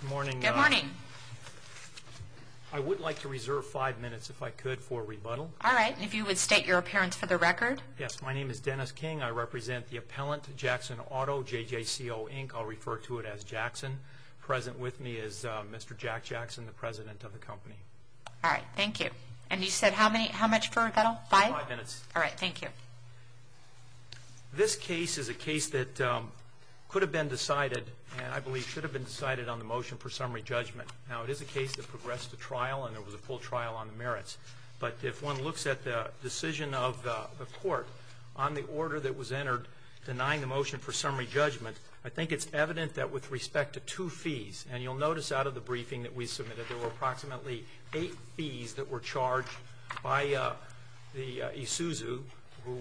Good morning. Good morning. I would like to reserve five minutes, if I could, for a rebuttal. All right. And if you would state your appearance for the record. Yes. My name is Dennis King. I represent the appellant, Jackson Auto, JJCO, Inc. I'll refer to it as Jackson. Present with me is Mr. Jack Jackson, the president of the company. All right. Thank you. And you said how many, how much for a rebuttal? Five? Five minutes. All right. Thank you. All right. This case is a case that could have been decided and I believe should have been decided on the motion for summary judgment. Now, it is a case that progressed to trial and there was a full trial on the merits. But if one looks at the decision of the court on the order that was entered denying the motion for summary judgment, I think it's evident that with respect to two fees, and you'll notice out of the briefing that we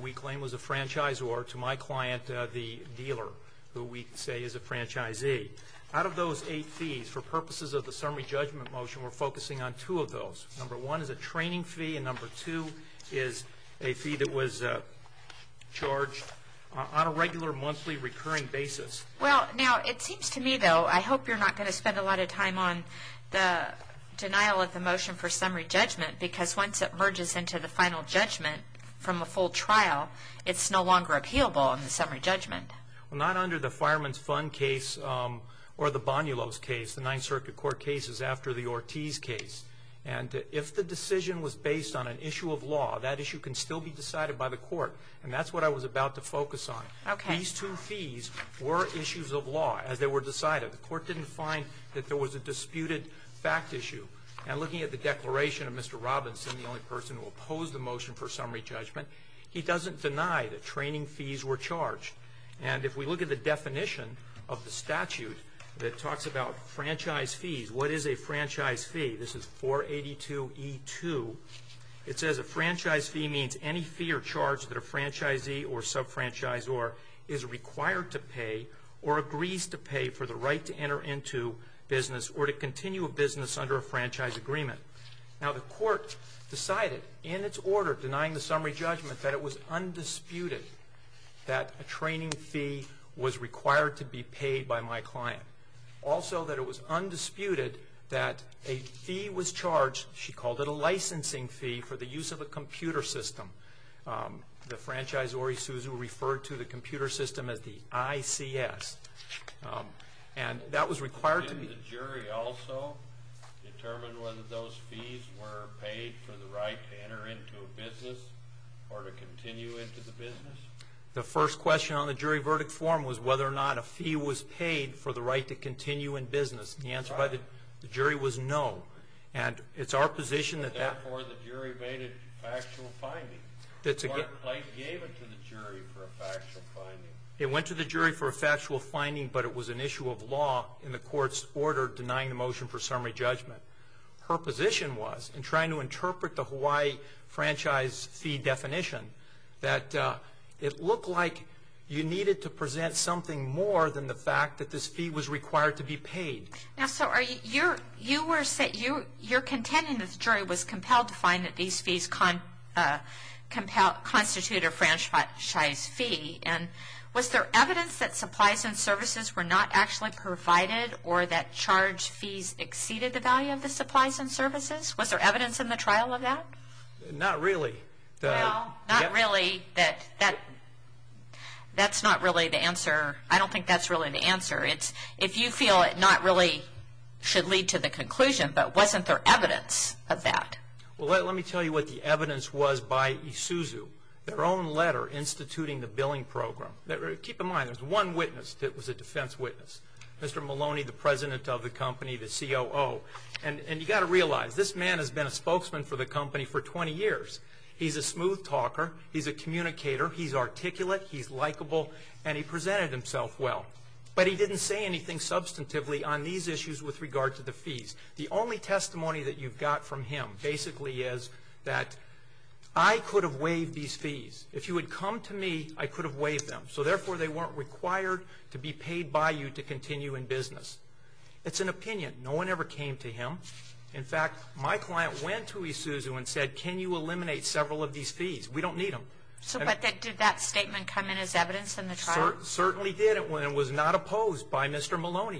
we claim was a franchisor to my client, the dealer, who we say is a franchisee. Out of those eight fees, for purposes of the summary judgment motion, we're focusing on two of those. Number one is a training fee and number two is a fee that was charged on a regular monthly recurring basis. Well, now, it seems to me, though, I hope you're not going to spend a lot of time on the denial of the motion for summary judgment because once it merges into the final judgment from a full trial, it's no longer appealable in the summary judgment. Well, not under the Fireman's Fund case or the Bonnulo's case, the Ninth Circuit Court cases after the Ortiz case. And if the decision was based on an issue of law, that issue can still be decided by the court. And that's what I was about to focus on. Okay. These two fees were issues of law as they were decided. The court didn't find that there was a disputed fact issue. And looking at the declaration of Mr. Robinson, the only person who opposed the motion for summary judgment, he doesn't deny that training fees were charged. And if we look at the definition of the statute that talks about franchise fees, what is a franchise fee? This is 482E2. It says a franchise fee means any fee or charge that a franchisee or sub-franchisor is required to pay or agrees to pay for the right to enter into business or to continue a business under a franchise agreement. Now, the court decided in its order denying the summary judgment that it was undisputed that a training fee was required to be paid by my client. Also that it was undisputed that a fee was charged, she called it a licensing fee, for the use of a computer system. The franchisee referred to the computer system as the ICS. And that was required to be... Did the jury also determine whether those fees were paid for the right to enter into a business or to continue into the business? The first question on the jury verdict form was whether or not a fee was paid for the right to continue in business. The answer by the jury was no. And it's our factual finding. It went to the jury for a factual finding, but it was an issue of law in the court's order denying the motion for summary judgment. Her position was, in trying to interpret the Hawaii franchise fee definition, that it looked like you needed to present something more than the fact that this fee was required to be paid. Now, so are you... You were saying... You're contending that the jury was compelled to find that these fees... And was there evidence that supplies and services were not actually provided or that charge fees exceeded the value of the supplies and services? Was there evidence in the trial of that? Not really. No, not really. That's not really the answer. I don't think that's really the answer. If you feel it not really should lead to the conclusion, but wasn't there evidence of that? Well, let me tell you what the evidence was by Isuzu. Their own letter instituting the billing program. Keep in mind, there's one witness that was a defense witness. Mr. Maloney, the president of the company, the COO. And you got to realize, this man has been a spokesman for the company for 20 years. He's a smooth talker. He's a communicator. He's articulate. He's likable. And he presented himself well. But he didn't say anything substantively on these issues with regard to the fees. The only testimony that you've got from him basically is that, I could have waived these fees. If you would come to me, I could have waived them. So therefore, they weren't required to be paid by you to continue in business. It's an opinion. No one ever came to him. In fact, my client went to Isuzu and said, can you eliminate several of these fees? We don't need them. So did that statement come in as evidence in the trial? Certainly did. It was not opposed by If you're talking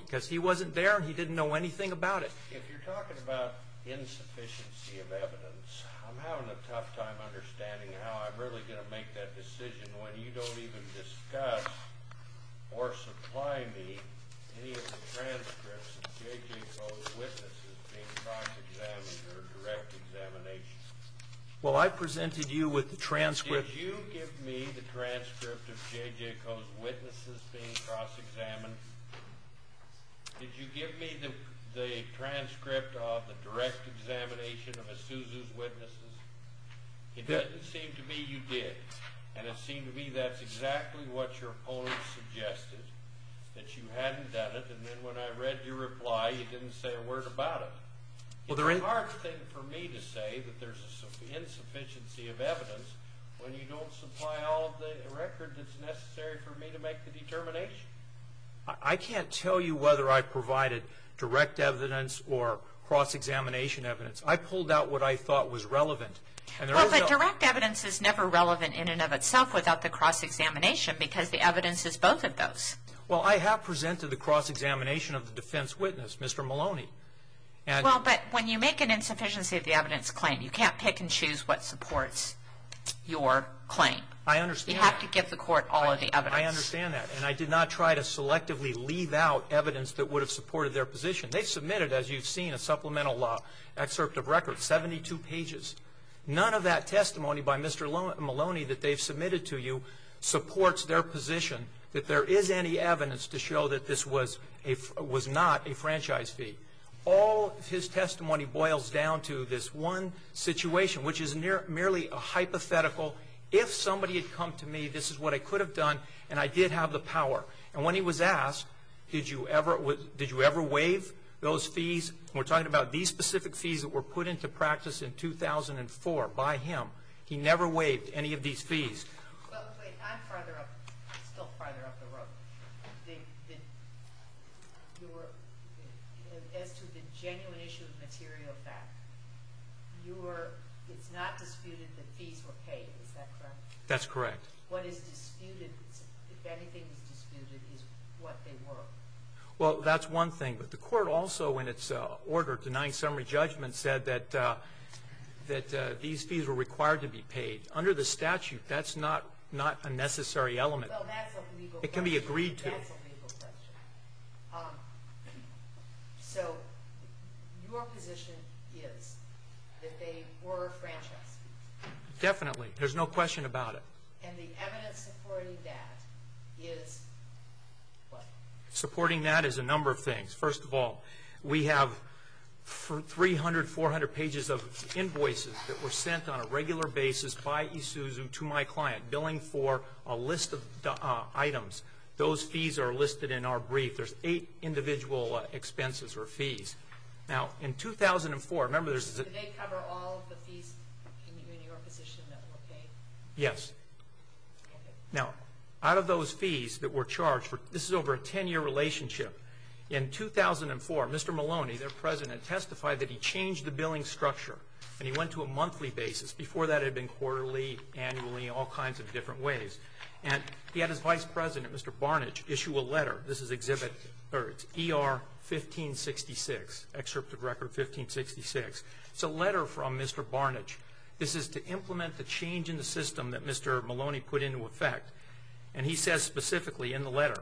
about insufficiency of evidence, I'm having a tough time understanding how I'm really going to make that decision when you don't even discuss or supply me any of the transcripts of JJ Coe's witnesses being cross-examined or direct examinations. Well, I presented you with the transcripts. Did you give me the transcript of JJ Coe's witnesses being cross-examined? Did you give me the transcript of the direct examination of Isuzu's witnesses? It doesn't seem to me you did. And it seemed to me that's exactly what your opponent suggested, that you hadn't done it. And then when I read your reply, you didn't say a word about it. It's a hard thing for me to say that there's an insufficiency of I can't tell you whether I provided direct evidence or cross-examination evidence. I pulled out what I thought was relevant. Well, but direct evidence is never relevant in and of itself without the cross-examination because the evidence is both of those. Well, I have presented the cross-examination of the defense witness, Mr. Maloney. Well, but when you make an insufficiency of the evidence claim, you can't pick and choose what supports your claim. I understand. You have to give the court all of the evidence. I understand that. And I did not try to selectively leave out evidence that would have supported their position. They submitted, as you've seen, a supplemental excerpt of record, 72 pages. None of that testimony by Mr. Maloney that they've submitted to you supports their position that there is any evidence to show that this was not a franchise fee. All his testimony boils down to this one to me. This is what I could have done, and I did have the power. And when he was asked, did you ever waive those fees? We're talking about these specific fees that were put into practice in 2004 by him. He never waived any of these fees. Well, I'm still farther up the road. As to the genuine issue of material fact, it's not disputed that fees were paid, is that correct? That's correct. What is disputed, if anything is disputed, is what they were. Well, that's one thing. But the court also, in its order denying summary judgment, said that these fees were required to be paid. Under the statute, that's not a necessary element. Well, that's a legal question. It can be agreed to. That's a legal question. So, your position is that they were franchise fees? Definitely. There's no question about it. And the evidence supporting that is what? Supporting that is a number of things. First of all, we have 300, 400 pages of invoices that were sent on a regular basis by Isuzu to my client, billing for a list of items. Those fees are listed in our brief. There's eight individual expenses or fees. Now, in 2004, remember there's... Did they cover all of the fees in your position that were paid? Yes. Now, out of those fees that were charged, this is over a 10-year relationship. In 2004, Mr. Maloney, their president, testified that he changed the billing structure and he went to a monthly basis. Before that, it had been quarterly, annually, all kinds of different ways. And he had his vice president, Mr. Barnidge, issue a letter. This is exhibit... It's ER 1566, excerpt of record 1566. It's a letter from Mr. Barnidge. This is to implement the change in the system that Mr. Maloney put into effect. And he says specifically in the letter,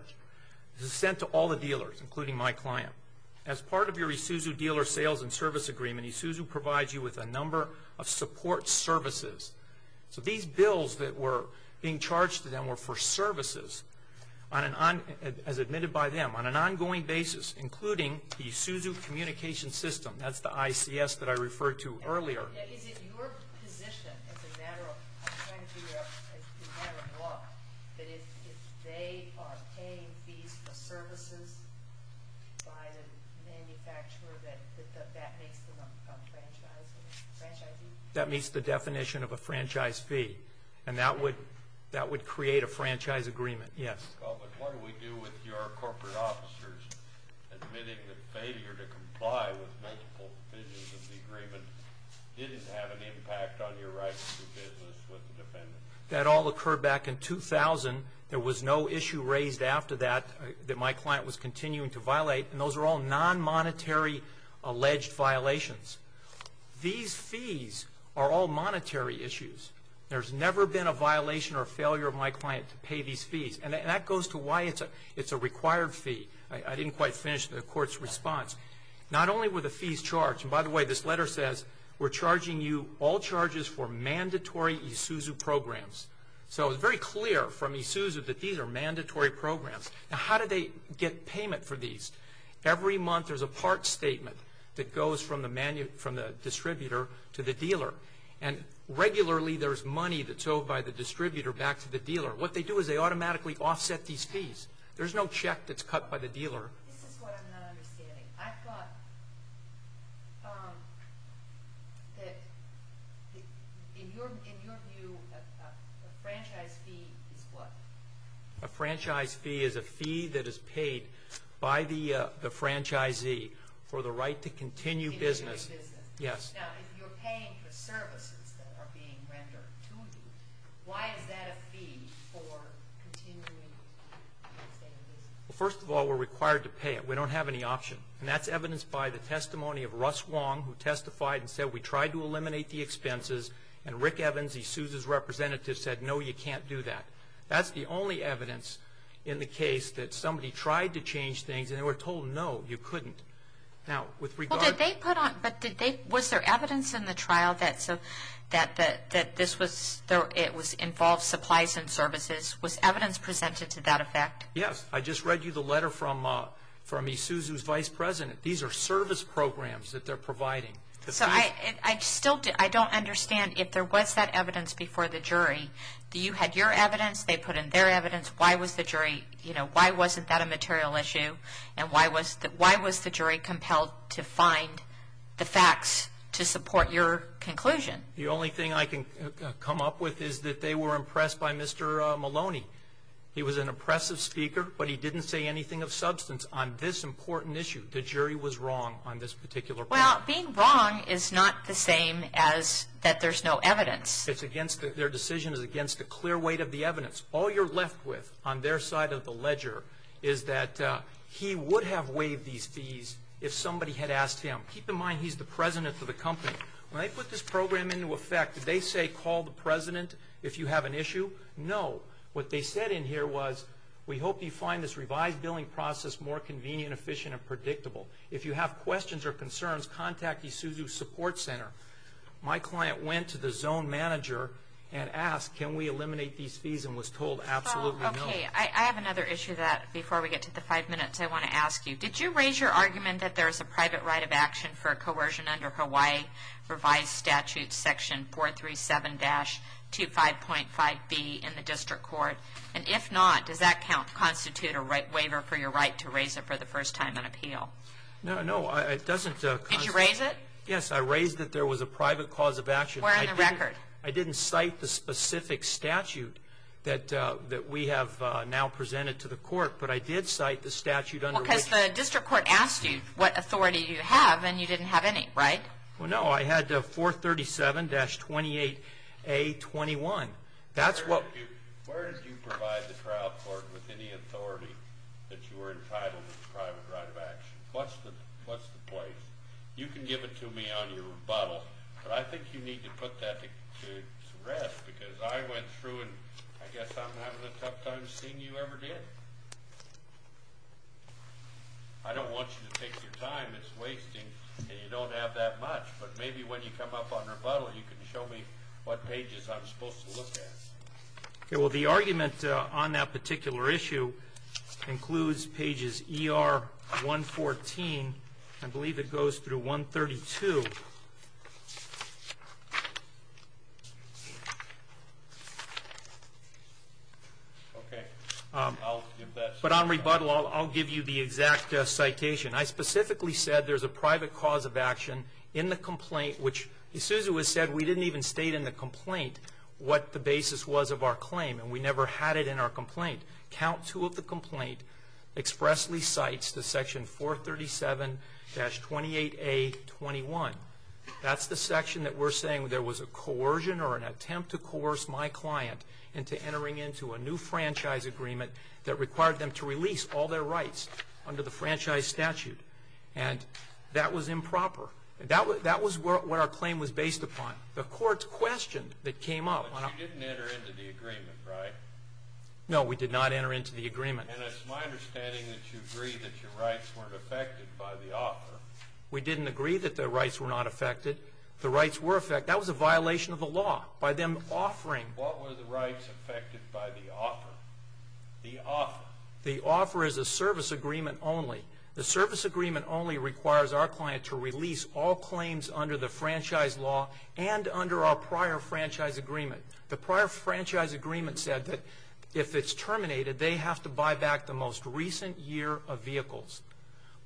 this is sent to all the dealers, including my client. As part of your Isuzu dealer sales and service agreement, Isuzu provides you with a number of support services. So these bills that were being charged to them were for services on an on... As admitted by them, on an ongoing basis, including the Isuzu communication system. That's the ICS that I referred to earlier. Is it your position as a matter of... I'm trying to figure out... As a matter of law, that if they are paying fees for services by the manufacturer that that makes them a franchise fee? That meets the definition of a franchise fee. And that would create a franchise agreement, yes. Well, but what do we do with your corporate officers admitting that failure to comply with multiple provisions of the agreement didn't have an impact on your right to do business with the defendant? That all occurred back in 2000. There was no issue raised after that that my client was alleged violations. These fees are all monetary issues. There's never been a violation or failure of my client to pay these fees. And that goes to why it's a required fee. I didn't quite finish the court's response. Not only were the fees charged... And by the way, this letter says, we're charging you all charges for mandatory Isuzu programs. So it's very clear from Isuzu that these are mandatory programs. Now, how do they get payment for these? Every month, there's a part statement that goes from the distributor to the dealer. And regularly, there's money that's owed by the distributor back to the dealer. What they do is they automatically offset these fees. There's no check that's cut by the dealer. This is what I'm not understanding. I thought that in your view, a franchise fee is what? For the right to continue business. Yes. Now, if you're paying for services that are being rendered to you, why is that a fee for continuing to stay in business? Well, first of all, we're required to pay it. We don't have any option. And that's evidenced by the testimony of Russ Wong, who testified and said, we tried to eliminate the expenses. And Rick Evans, Isuzu's representative said, no, you can't do that. That's the only evidence in the case that somebody tried to change things and they were told, no, you couldn't. Now, with regard- Well, did they put on- Was there evidence in the trial that it involved supplies and services? Was evidence presented to that effect? Yes. I just read you the letter from Isuzu's vice president. These are service programs that they're providing. So, I still don't understand. If there was that evidence before the jury, you had your evidence, they put in their evidence. Why wasn't that a material issue? And why was the jury compelled to find the facts to support your conclusion? The only thing I can come up with is that they were impressed by Mr. Maloney. He was an impressive speaker, but he didn't say anything of substance on this important issue. The jury was wrong on this particular point. Well, being wrong is not the same as that there's no evidence. Their decision is against the clear weight of the evidence. All you're left with on their side of the ledger is that he would have waived these fees if somebody had asked him. Keep in mind, he's the president of the company. When they put this program into effect, did they say, call the president if you have an issue? No. What they said in here was, we hope you find this revised billing process more convenient, efficient, and predictable. If you have questions or concerns, contact Isuzu's support center. My client went to the zone manager and asked, can we eliminate these fees, and was told, absolutely no. I have another issue that, before we get to the five minutes, I want to ask you. Did you raise your argument that there is a private right of action for coercion under Hawaii revised statute section 437-25.5b in the district court? And if not, does that constitute a waiver for your right to raise it for the first time on appeal? No, it doesn't. Did you raise it? Yes, I raised that there was a private cause of action. Where in the record? I didn't cite the specific statute that we have now presented to the court, but I did cite the statute under which- Because the district court asked you what authority you have, and you didn't have any, right? Well, no. I had 437-28a21. That's what- Where did you provide the trial court with any authority that you were entitled to a private right of action? What's the place? You can give it to me on your rebuttal, but I think you need to put that to rest, because I went through, and I guess I'm having a tough time seeing you ever did. I don't want you to take your time. It's wasting, and you don't have that much, but maybe when you come up on rebuttal, you can show me what pages I'm supposed to look at. Okay, well, the argument on that particular issue includes pages ER-114. I believe it goes through 132. Okay, I'll give that- But on rebuttal, I'll give you the exact citation. I specifically said there's a private cause of action in the complaint, which as soon as it was said, we didn't even state in the complaint what the basis was of our claim, and we never had it in our complaint. Count two of the complaint expressly cites the section 437-28A21. That's the section that we're saying there was a coercion or an attempt to coerce my client into entering into a new franchise agreement that required them to release all their rights under the franchise statute, and that was improper. That was what our claim was based upon. The court's question that came up- And it's my understanding that you agree that your rights weren't affected by the offer. What were the rights affected by the offer? The offer. They have to buy back the most recent year of vehicles,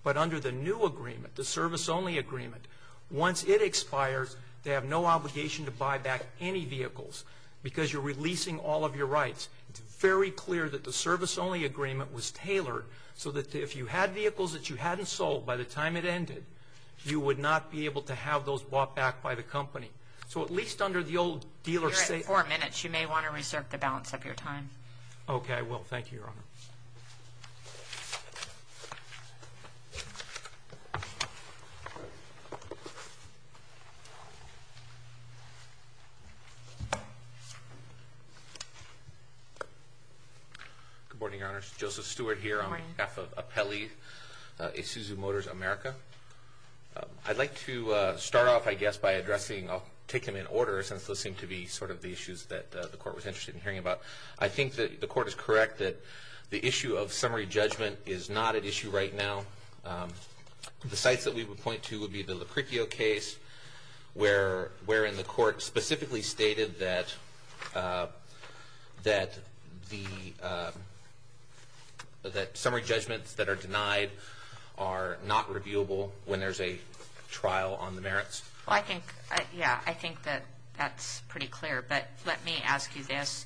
but under the new agreement, the service-only agreement, once it expires, they have no obligation to buy back any vehicles because you're releasing all of your rights. It's very clear that the service-only agreement was tailored so that if you had vehicles that you hadn't sold by the time it ended, you would not be able to have those bought back by the company. So at least under the old dealer- You're at four minutes. You may want to reserve the balance of your time. Okay, I will. Thank you, Your Honor. Good morning, Your Honor. Joseph Stewart here on behalf of Apelli Isuzu Motors America. I'd like to start off, I guess, by addressing- I'll take them in order since those seem to be the issues that the Court was interested in hearing about. I think that the Court is correct that the issue of summary judgment is not at issue right now. The sites that we would point to would be the Lucretio case wherein the Court specifically stated that summary judgments that are denied are not reviewable when there's a trial on the merits. Well, I think, yeah, I think that that's pretty clear, but let me ask you this.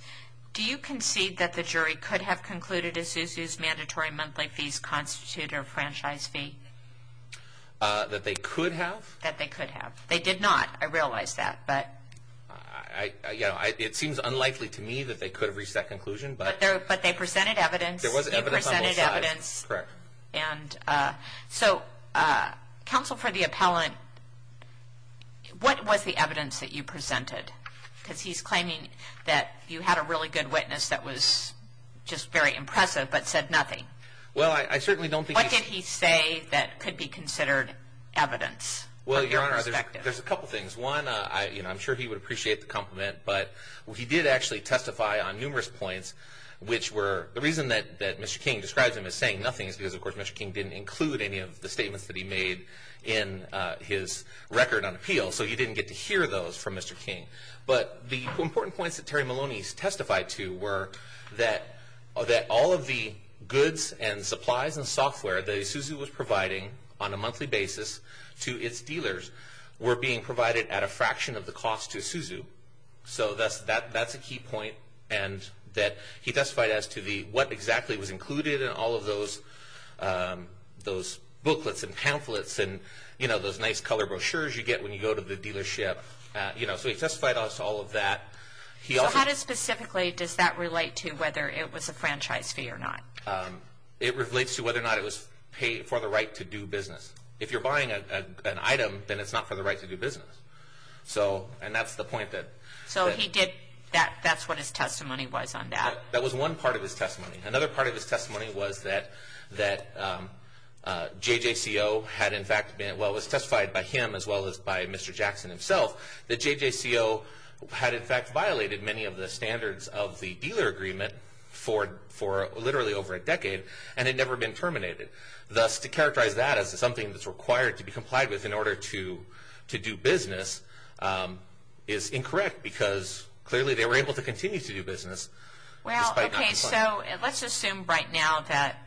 Do you concede that the jury could have concluded Isuzu's mandatory monthly fees constitute a franchise fee? That they could have? That they could have. They did not, I realize that, but- It seems unlikely to me that they could have reached that conclusion, but- But they presented evidence. There was evidence on both sides. Correct. And so, Counsel for the Appellant, what was the evidence that you presented? Because he's claiming that you had a really good witness that was just very impressive but said nothing. Well, I certainly don't think- What did he say that could be considered evidence from your perspective? Well, Your Honor, there's a couple things. One, I'm sure he would appreciate the compliment, but he did actually testify on numerous points which were- The reason that Mr. King describes him as saying nothing is because, of course, Mr. King didn't include any of the statements that he made in his record on appeal, so you didn't get to hear those from Mr. King. But the important points that Terry Maloney testified to were that all of the goods and supplies and software that Isuzu was providing on a monthly basis to its dealers were being provided at a fraction of the cost to Isuzu. So that's a key point, and that he testified as to what exactly was included in all of those booklets and pamphlets and those nice color brochures you get when you go to the dealership. So he testified to all of that. So how specifically does that relate to whether it was a franchise fee or not? It relates to whether or not it was for the right to do business. If you're buying an item, then it's not for the right to do business. And that's the point that- So he did- That's what his testimony was on that? That was one part of his testimony. Another part of his testimony was that JJCO had in fact been- Well, it was testified by him as well as by Mr. Jackson himself that JJCO had in fact violated many of the standards of the dealer agreement for literally over a decade, and it had never been terminated. Thus, to characterize that as something that's required to be complied with in order to do business is incorrect because clearly they were able to continue to do business despite not complying. Well, okay, so let's assume right now that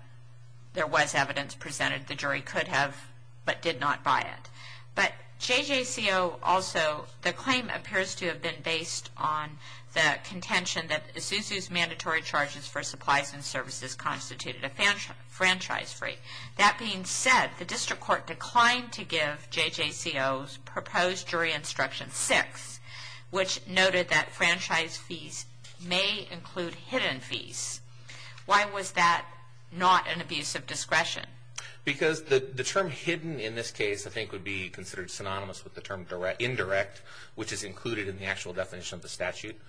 there was evidence presented the jury could have but did not buy it. But JJCO also, the claim appears to have been based on the contention that Isuzu's mandatory charges for supplies and services constituted a franchise fee. That being said, the district court declined to give JJCO's jury instruction six, which noted that franchise fees may include hidden fees. Why was that not an abuse of discretion? Because the term hidden in this case, I think, would be considered synonymous with the term indirect, which is included in the actual definition of the statute.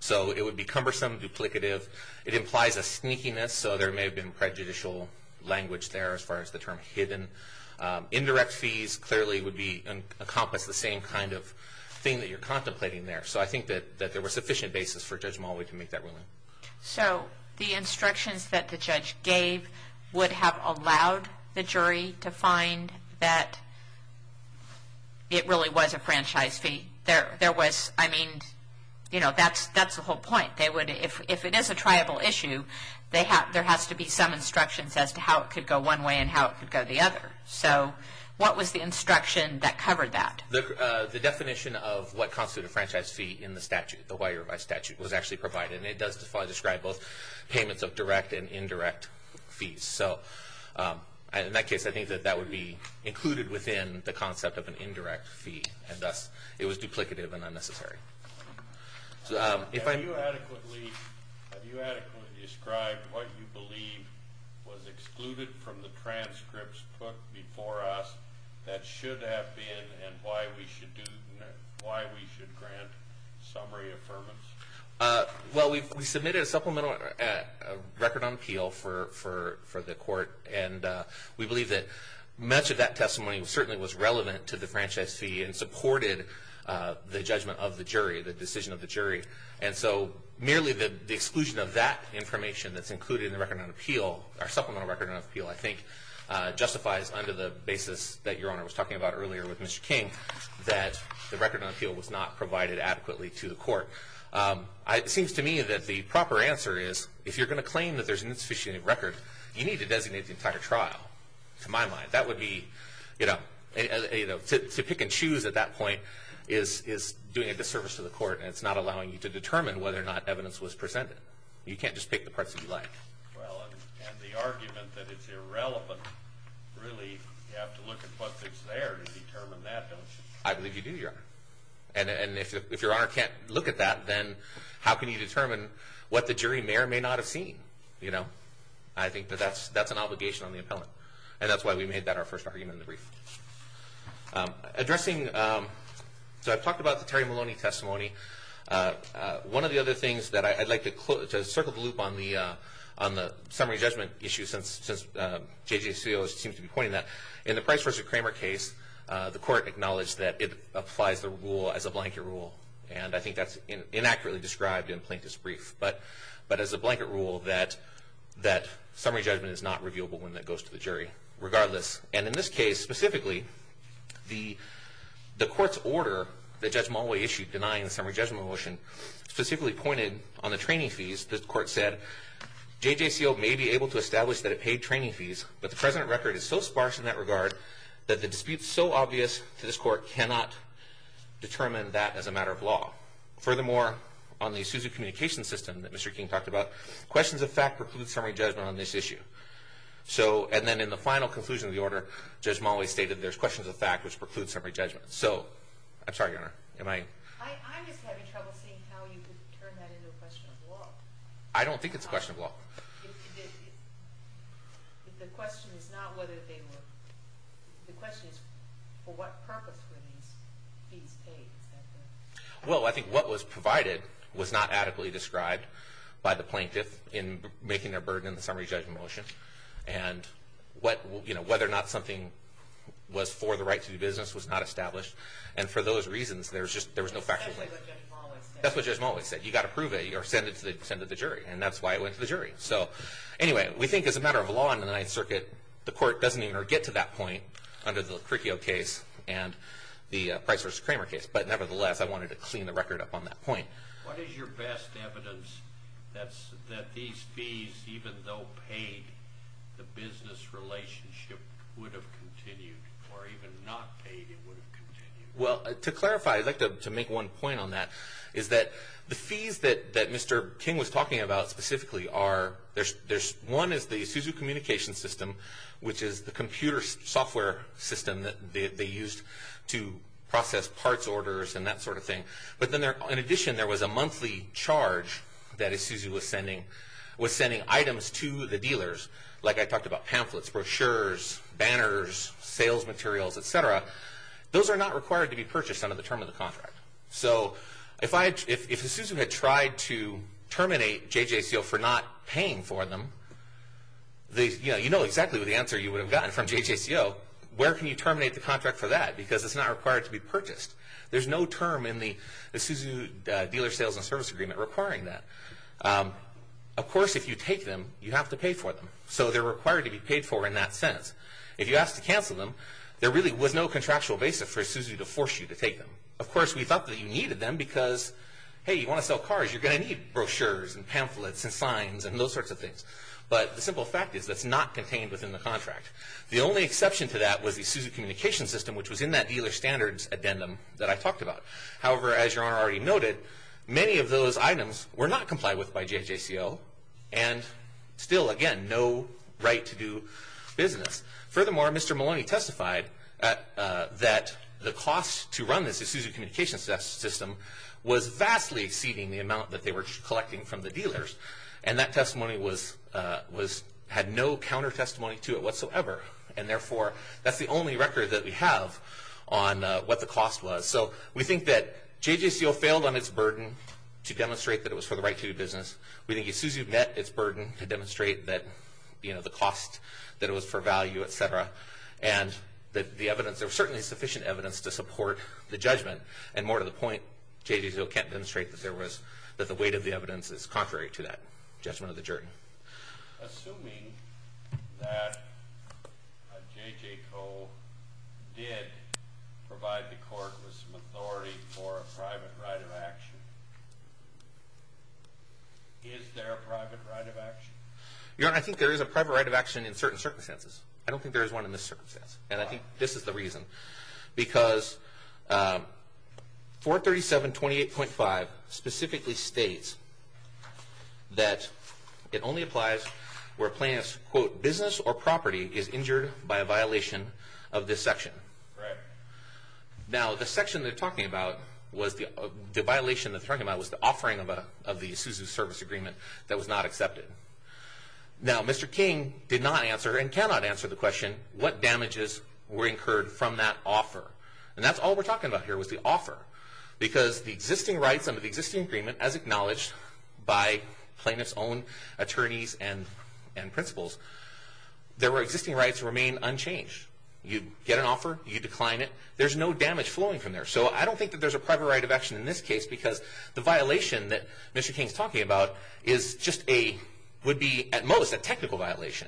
So it would be cumbersome, duplicative. It implies a sneakiness, so there may have been prejudicial language there as far as the term hidden. Indirect fees clearly would encompass the same kind of thing that you're contemplating there. So I think that there was sufficient basis for Judge Mulway to make that ruling. So the instructions that the judge gave would have allowed the jury to find that it really was a franchise fee. There was, I mean, you know, that's the whole point. If it is a tribal issue, there has to be some instructions as to how it could go one way and how it could go the other. So what was the instruction that covered that? The definition of what constitutes a franchise fee in the statute, the Hawaii Revised Statute, was actually provided, and it does describe both payments of direct and indirect fees. So in that case, I think that that would be included within the concept of an indirect fee, and thus it was duplicative and unnecessary. Have you adequately described what you believe was excluded from the transcripts put before us that should have been and why we should grant summary affirmance? Well, we submitted a supplemental record on appeal for the court, and we believe that much of that testimony certainly was relevant to the franchise fee and supported the judgment of the jury, the decision of the jury. And so merely the exclusion of that supplemental record on appeal, I think, justifies under the basis that Your Honor was talking about earlier with Mr. King that the record on appeal was not provided adequately to the court. It seems to me that the proper answer is, if you're going to claim that there's an insufficient record, you need to designate the entire trial, to my mind. That would be, you know, to pick and choose at that point is doing a disservice to the court, and it's not allowing you to determine whether or not evidence was presented. You can't just pick the parts that you like. Well, and the argument that it's irrelevant, really, you have to look at what's there to determine that, don't you? I believe you do, Your Honor. And if Your Honor can't look at that, then how can you determine what the jury may or may not have seen, you know? I think that that's an obligation on the appellant, and that's why we made that our first argument in the brief. Addressing, so I've talked about the Terry Maloney testimony. One of the other things that I'd like to circle the loop on the summary judgment issue, since J.J. Seales seems to be pointing that, in the Price v. Kramer case, the court acknowledged that it applies the rule as a blanket rule, and I think that's inaccurately described in Plaintiff's brief, but as a blanket rule that summary judgment is not reviewable when that goes to the jury, regardless. And in this case, specifically, the court's order that Judge Maloney issued denying the summary judgment motion, specifically pointed on the training fees. The court said, J.J. Seales may be able to establish that it paid training fees, but the present record is so sparse in that regard that the disputes so obvious to this court cannot determine that as a matter of law. Furthermore, on the Isuzu communication system that Mr. King talked about, questions of fact preclude summary judgment on this issue. So, and then in the final conclusion of the order, Judge Maloney stated there's questions of fact which preclude summary judgment. So, I'm sorry, Your Honor, am I? I'm just having trouble seeing how you could turn that into a question of law. I don't think it's a question of law. The question is not whether they were, the question is for what purpose were these fees paid? Well, I think what was provided was not adequately described by the Plaintiff in making their burden in the summary judgment motion. And what, you know, whether or not something was for the right to do business was not established. And for those reasons, there was just, there was no factual claim. That's what Judge Maloney said. You got to prove it or send it to the jury. And that's why it went to the jury. So, anyway, we think as a matter of law in the Ninth Circuit, the court doesn't even get to that point under the Criccio case and the Price v. Kramer case. But nevertheless, I wanted to clean the record up on that point. What is your best evidence that these fees, even though paid, the business relationship would have continued? Or even not paid, it would have continued? Well, to clarify, I'd like to make one point on that, is that the fees that Mr. King was talking about specifically are, there's, one is the Isuzu communication system, which is the computer software system that they used to process parts orders and that sort of dealers, like I talked about, pamphlets, brochures, banners, sales materials, etc. Those are not required to be purchased under the term of the contract. So, if Isuzu had tried to terminate JJCO for not paying for them, you know exactly what the answer you would have gotten from JJCO, where can you terminate the contract for that? Because it's not required to be purchased. There's no term in the Isuzu dealer sales and service agreement requiring that. Of course, if you take them, you have to pay for them. So, they're required to be paid for in that sense. If you ask to cancel them, there really was no contractual basis for Isuzu to force you to take them. Of course, we thought that you needed them because, hey, you want to sell cars, you're going to need brochures and pamphlets and signs and those sorts of things. But the simple fact is that's not contained within the contract. The only exception to that was the Isuzu communication system, which was in that dealer standards addendum that I talked about. However, as your items were not complied with by JJCO and still, again, no right to do business. Furthermore, Mr. Maloney testified that the cost to run this Isuzu communication system was vastly exceeding the amount that they were collecting from the dealers. And that testimony had no counter testimony to it whatsoever. And therefore, that's the only record that we have on what the cost was. So, we think that JJCO failed on its burden to demonstrate that it was for the right to do business. We think Isuzu met its burden to demonstrate that, you know, the cost, that it was for value, etc. And that the evidence, there was certainly sufficient evidence to support the judgment. And more to the point, JJCO can't demonstrate that there was, that the weight of the evidence is contrary to that judgment of the jury. Assuming that JJCO did provide the court with some authority for a private right of action, is there a private right of action? Your Honor, I think there is a private right of action in certain circumstances. I don't think there is in this circumstance. And I think this is the reason. Because 437.28.5 specifically states that it only applies where a plaintiff's, quote, business or property is injured by a violation of this section. Right. Now, the section they're talking about was the, the violation they're talking about was the offering of a, of the Isuzu service agreement that was not accepted. Now, Mr. King did not answer and cannot answer the question, what damages were incurred from that offer? And that's all we're talking about here was the offer. Because the existing rights under the existing agreement, as acknowledged by plaintiff's own attorneys and, and principals, there were existing rights remain unchanged. You get an offer, you decline it, there's no damage flowing from there. So I don't think that there's a private right of action in this case, because the violation that Mr. King's talking about is just a, would be at most a technical violation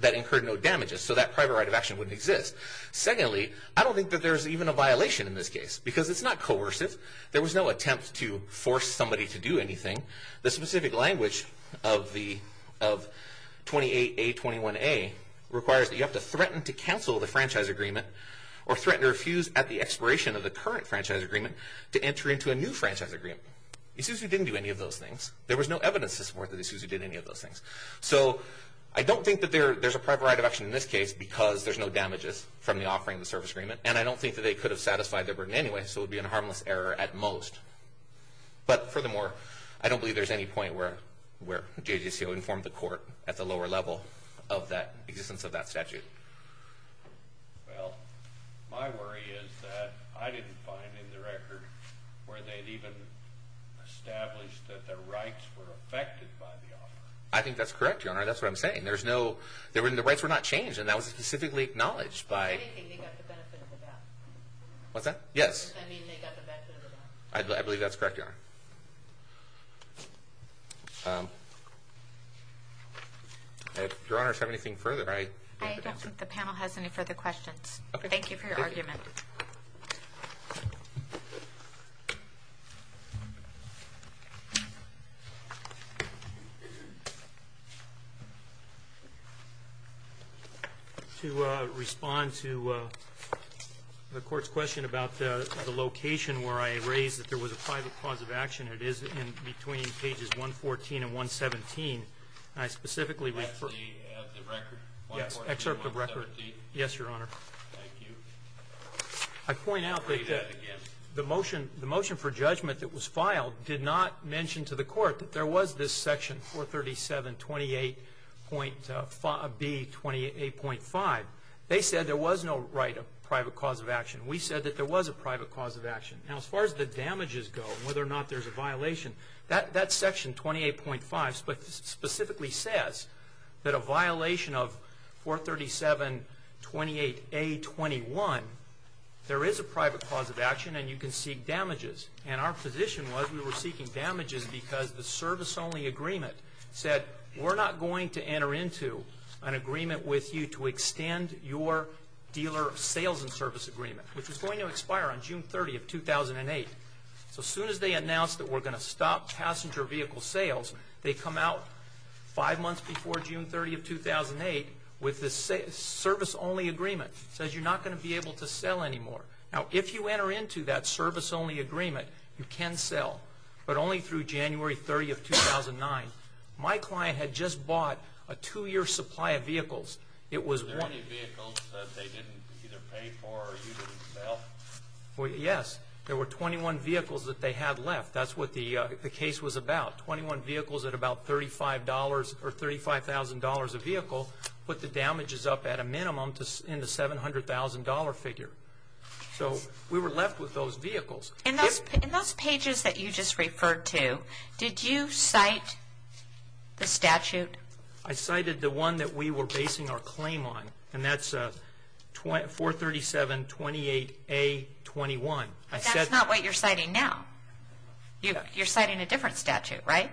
that incurred no damages. So that private right of action wouldn't exist. Secondly, I don't think that there's even a violation in this case, because it's not coercive. There was no attempt to force somebody to do anything. The specific language of the, of 28A21A requires that you have to threaten to cancel the franchise agreement or threaten to refuse at the expiration of the franchise agreement. Isuzu didn't do any of those things. There was no evidence to support that Isuzu did any of those things. So I don't think that there, there's a private right of action in this case, because there's no damages from the offering of the service agreement. And I don't think that they could have satisfied their burden anyway, so it would be a harmless error at most. But furthermore, I don't believe there's any point where, where JJCO informed the court at the lower level of that existence of that statute. Well, my worry is that I didn't find in the record where they'd even established that their rights were affected by the offer. I think that's correct, Your Honor. That's what I'm saying. There's no, there were, the rights were not changed, and that was specifically acknowledged by... What's that? Yes. I believe that's correct, Your Honor. Your Honor, if you have anything further, I... I don't think the panel has any further questions. Thank you for your argument. To respond to the court's question about the location where I raised that there was a private cause of action, it is in between pages 114 and 117, and I specifically refer... Thank you. I point out that the motion, the motion for judgment that was filed did not mention to the court that there was this section 437.28.B.28.5. They said there was no right of private cause of action. We said that there was a private cause of action. Now, as far as the damages go, whether or not there's a violation, that section 28.5 specifically says that a 21, there is a private cause of action and you can seek damages, and our position was we were seeking damages because the service-only agreement said, we're not going to enter into an agreement with you to extend your dealer sales and service agreement, which was going to expire on June 30 of 2008. So soon as they announced that we're going to stop passenger vehicle sales, they come five months before June 30 of 2008 with this service-only agreement. It says you're not going to be able to sell anymore. Now, if you enter into that service-only agreement, you can sell, but only through January 30 of 2009. My client had just bought a two-year supply of vehicles. Was there any vehicles that they didn't either pay for or you didn't sell? Yes. There were 21 vehicles that they had left. That's what the case was about. 21 vehicles at $35,000 a vehicle put the damages up at a minimum in the $700,000 figure. So we were left with those vehicles. In those pages that you just referred to, did you cite the statute? I cited the one that we were basing our claim on, and that's 437-28A-21. That's not what you're citing now. You're citing a different statute, right?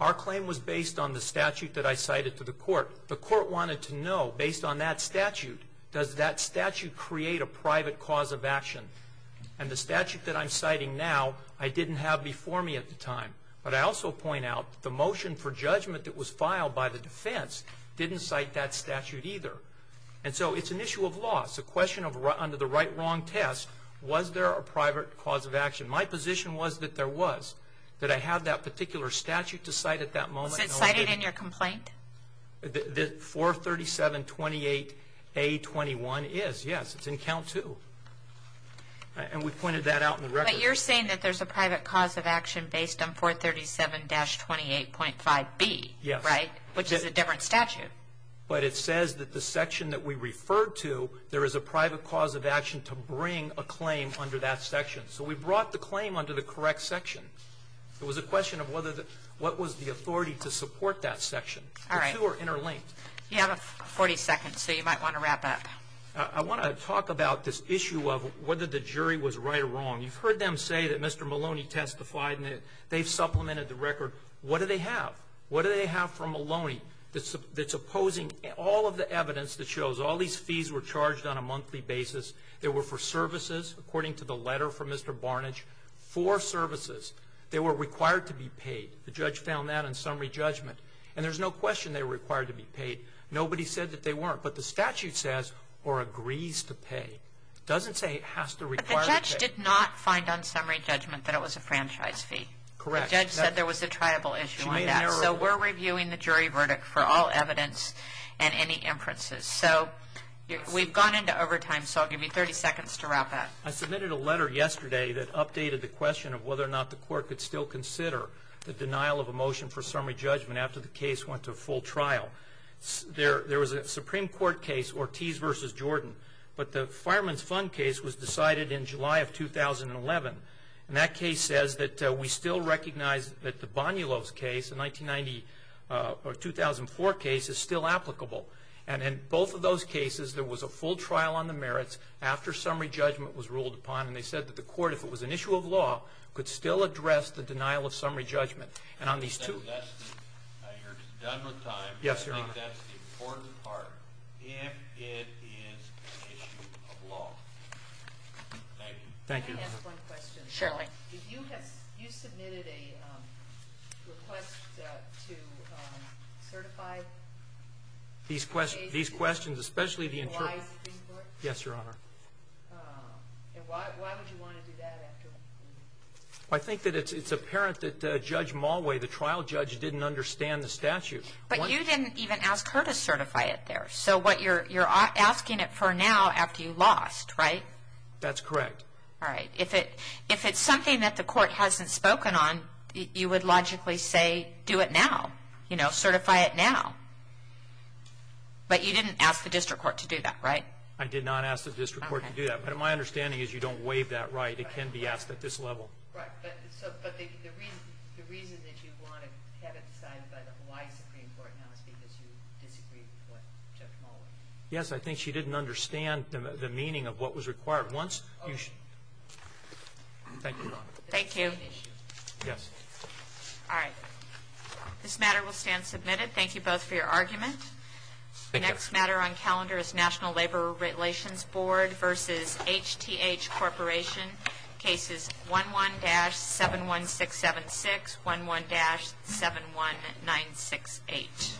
Our claim was based on the statute that I cited to the court. The court wanted to know, based on that statute, does that statute create a private cause of action? And the statute that I'm citing now, I didn't have before me at the time. But I also point out the motion for judgment that was filed by the defense didn't cite that statute either. And so it's an issue of loss, a question of under the right-wrong test, was there a private cause of action? My position was that there was. That I had that particular statute to cite at that moment. Was it cited in your complaint? 437-28A-21 is, yes. It's in count two. And we pointed that out in the record. But you're saying that there's a private cause of action based on 437-28.5B, right? Yes. Which is a different statute. But it says that the section that we referred to, there is a private cause of action to bring a claim under that section. So we brought the claim under the correct section. It was a question of what was the authority to support that section. All right. The two are interlinked. You have 40 seconds, so you might want to wrap up. I want to talk about this issue of whether the jury was right or wrong. You've heard them say that Mr. Maloney testified, and they've supplemented the record. What do they have? What do they have for Maloney that's opposing all of the evidence that shows all these fees were charged on a monthly basis? They were for services, according to the letter from Mr. Barnidge, for services. They were required to be paid. The judge found that in summary judgment. And there's no question they were required to be paid. Nobody said that they weren't. But the statute says, or agrees to pay. It doesn't say it has to require the pay. But the judge did not find on summary judgment that it was a franchise fee. Correct. The judge said there was a triable issue on that. So we're reviewing the jury verdict for all evidence and any inferences. So we've gone into overtime, so I'll give you 30 seconds to wrap up. I submitted a letter yesterday that updated the question of whether or not the court could still consider the denial of a motion for summary judgment after the case went to full trial. There was a Supreme Court case, Ortiz v. Jordan, but the Fireman's Fund case was decided in July of 2011. And that case says that we still recognize that the Bonillo's case, a 1990 or 2004 case, is still applicable. And in both of those cases, there was a full trial on the merits after summary judgment was ruled upon. And they said that the court, if it was an issue of law, could still address the denial of summary judgment. And on these two ---- You're done with time. Yes, Your Honor. I think that's the important part, if it is an issue of law. Thank you. Thank you, Your Honor. Can I ask one question? Certainly. Did you have ---- you submitted a request to certify these cases? Yes, Your Honor. And why would you want to do that after? I think that it's apparent that Judge Mulway, the trial judge, didn't understand the statute. But you didn't even ask her to certify it there. So what you're asking it for now, after you lost, right? That's correct. All right. If it's something that the court hasn't spoken on, you would logically say, do it now. You know, certify it now. But you didn't ask the district court to do that, right? I did not ask the district court to do that. But my understanding is you don't waive that right. It can be asked at this level. Right. But the reason that you want to have it decided by the Hawaii Supreme Court now is because you disagreed with what Judge Mulway said. Yes, I think she didn't understand the meaning of what was required. Once you ---- Thank you, Your Honor. Thank you. Yes. All right. This matter will stand submitted. Thank you both for your argument. The next matter on calendar is National Labor Relations Board versus HTH Corporation, cases 11-71676, 11-71968. Thank you.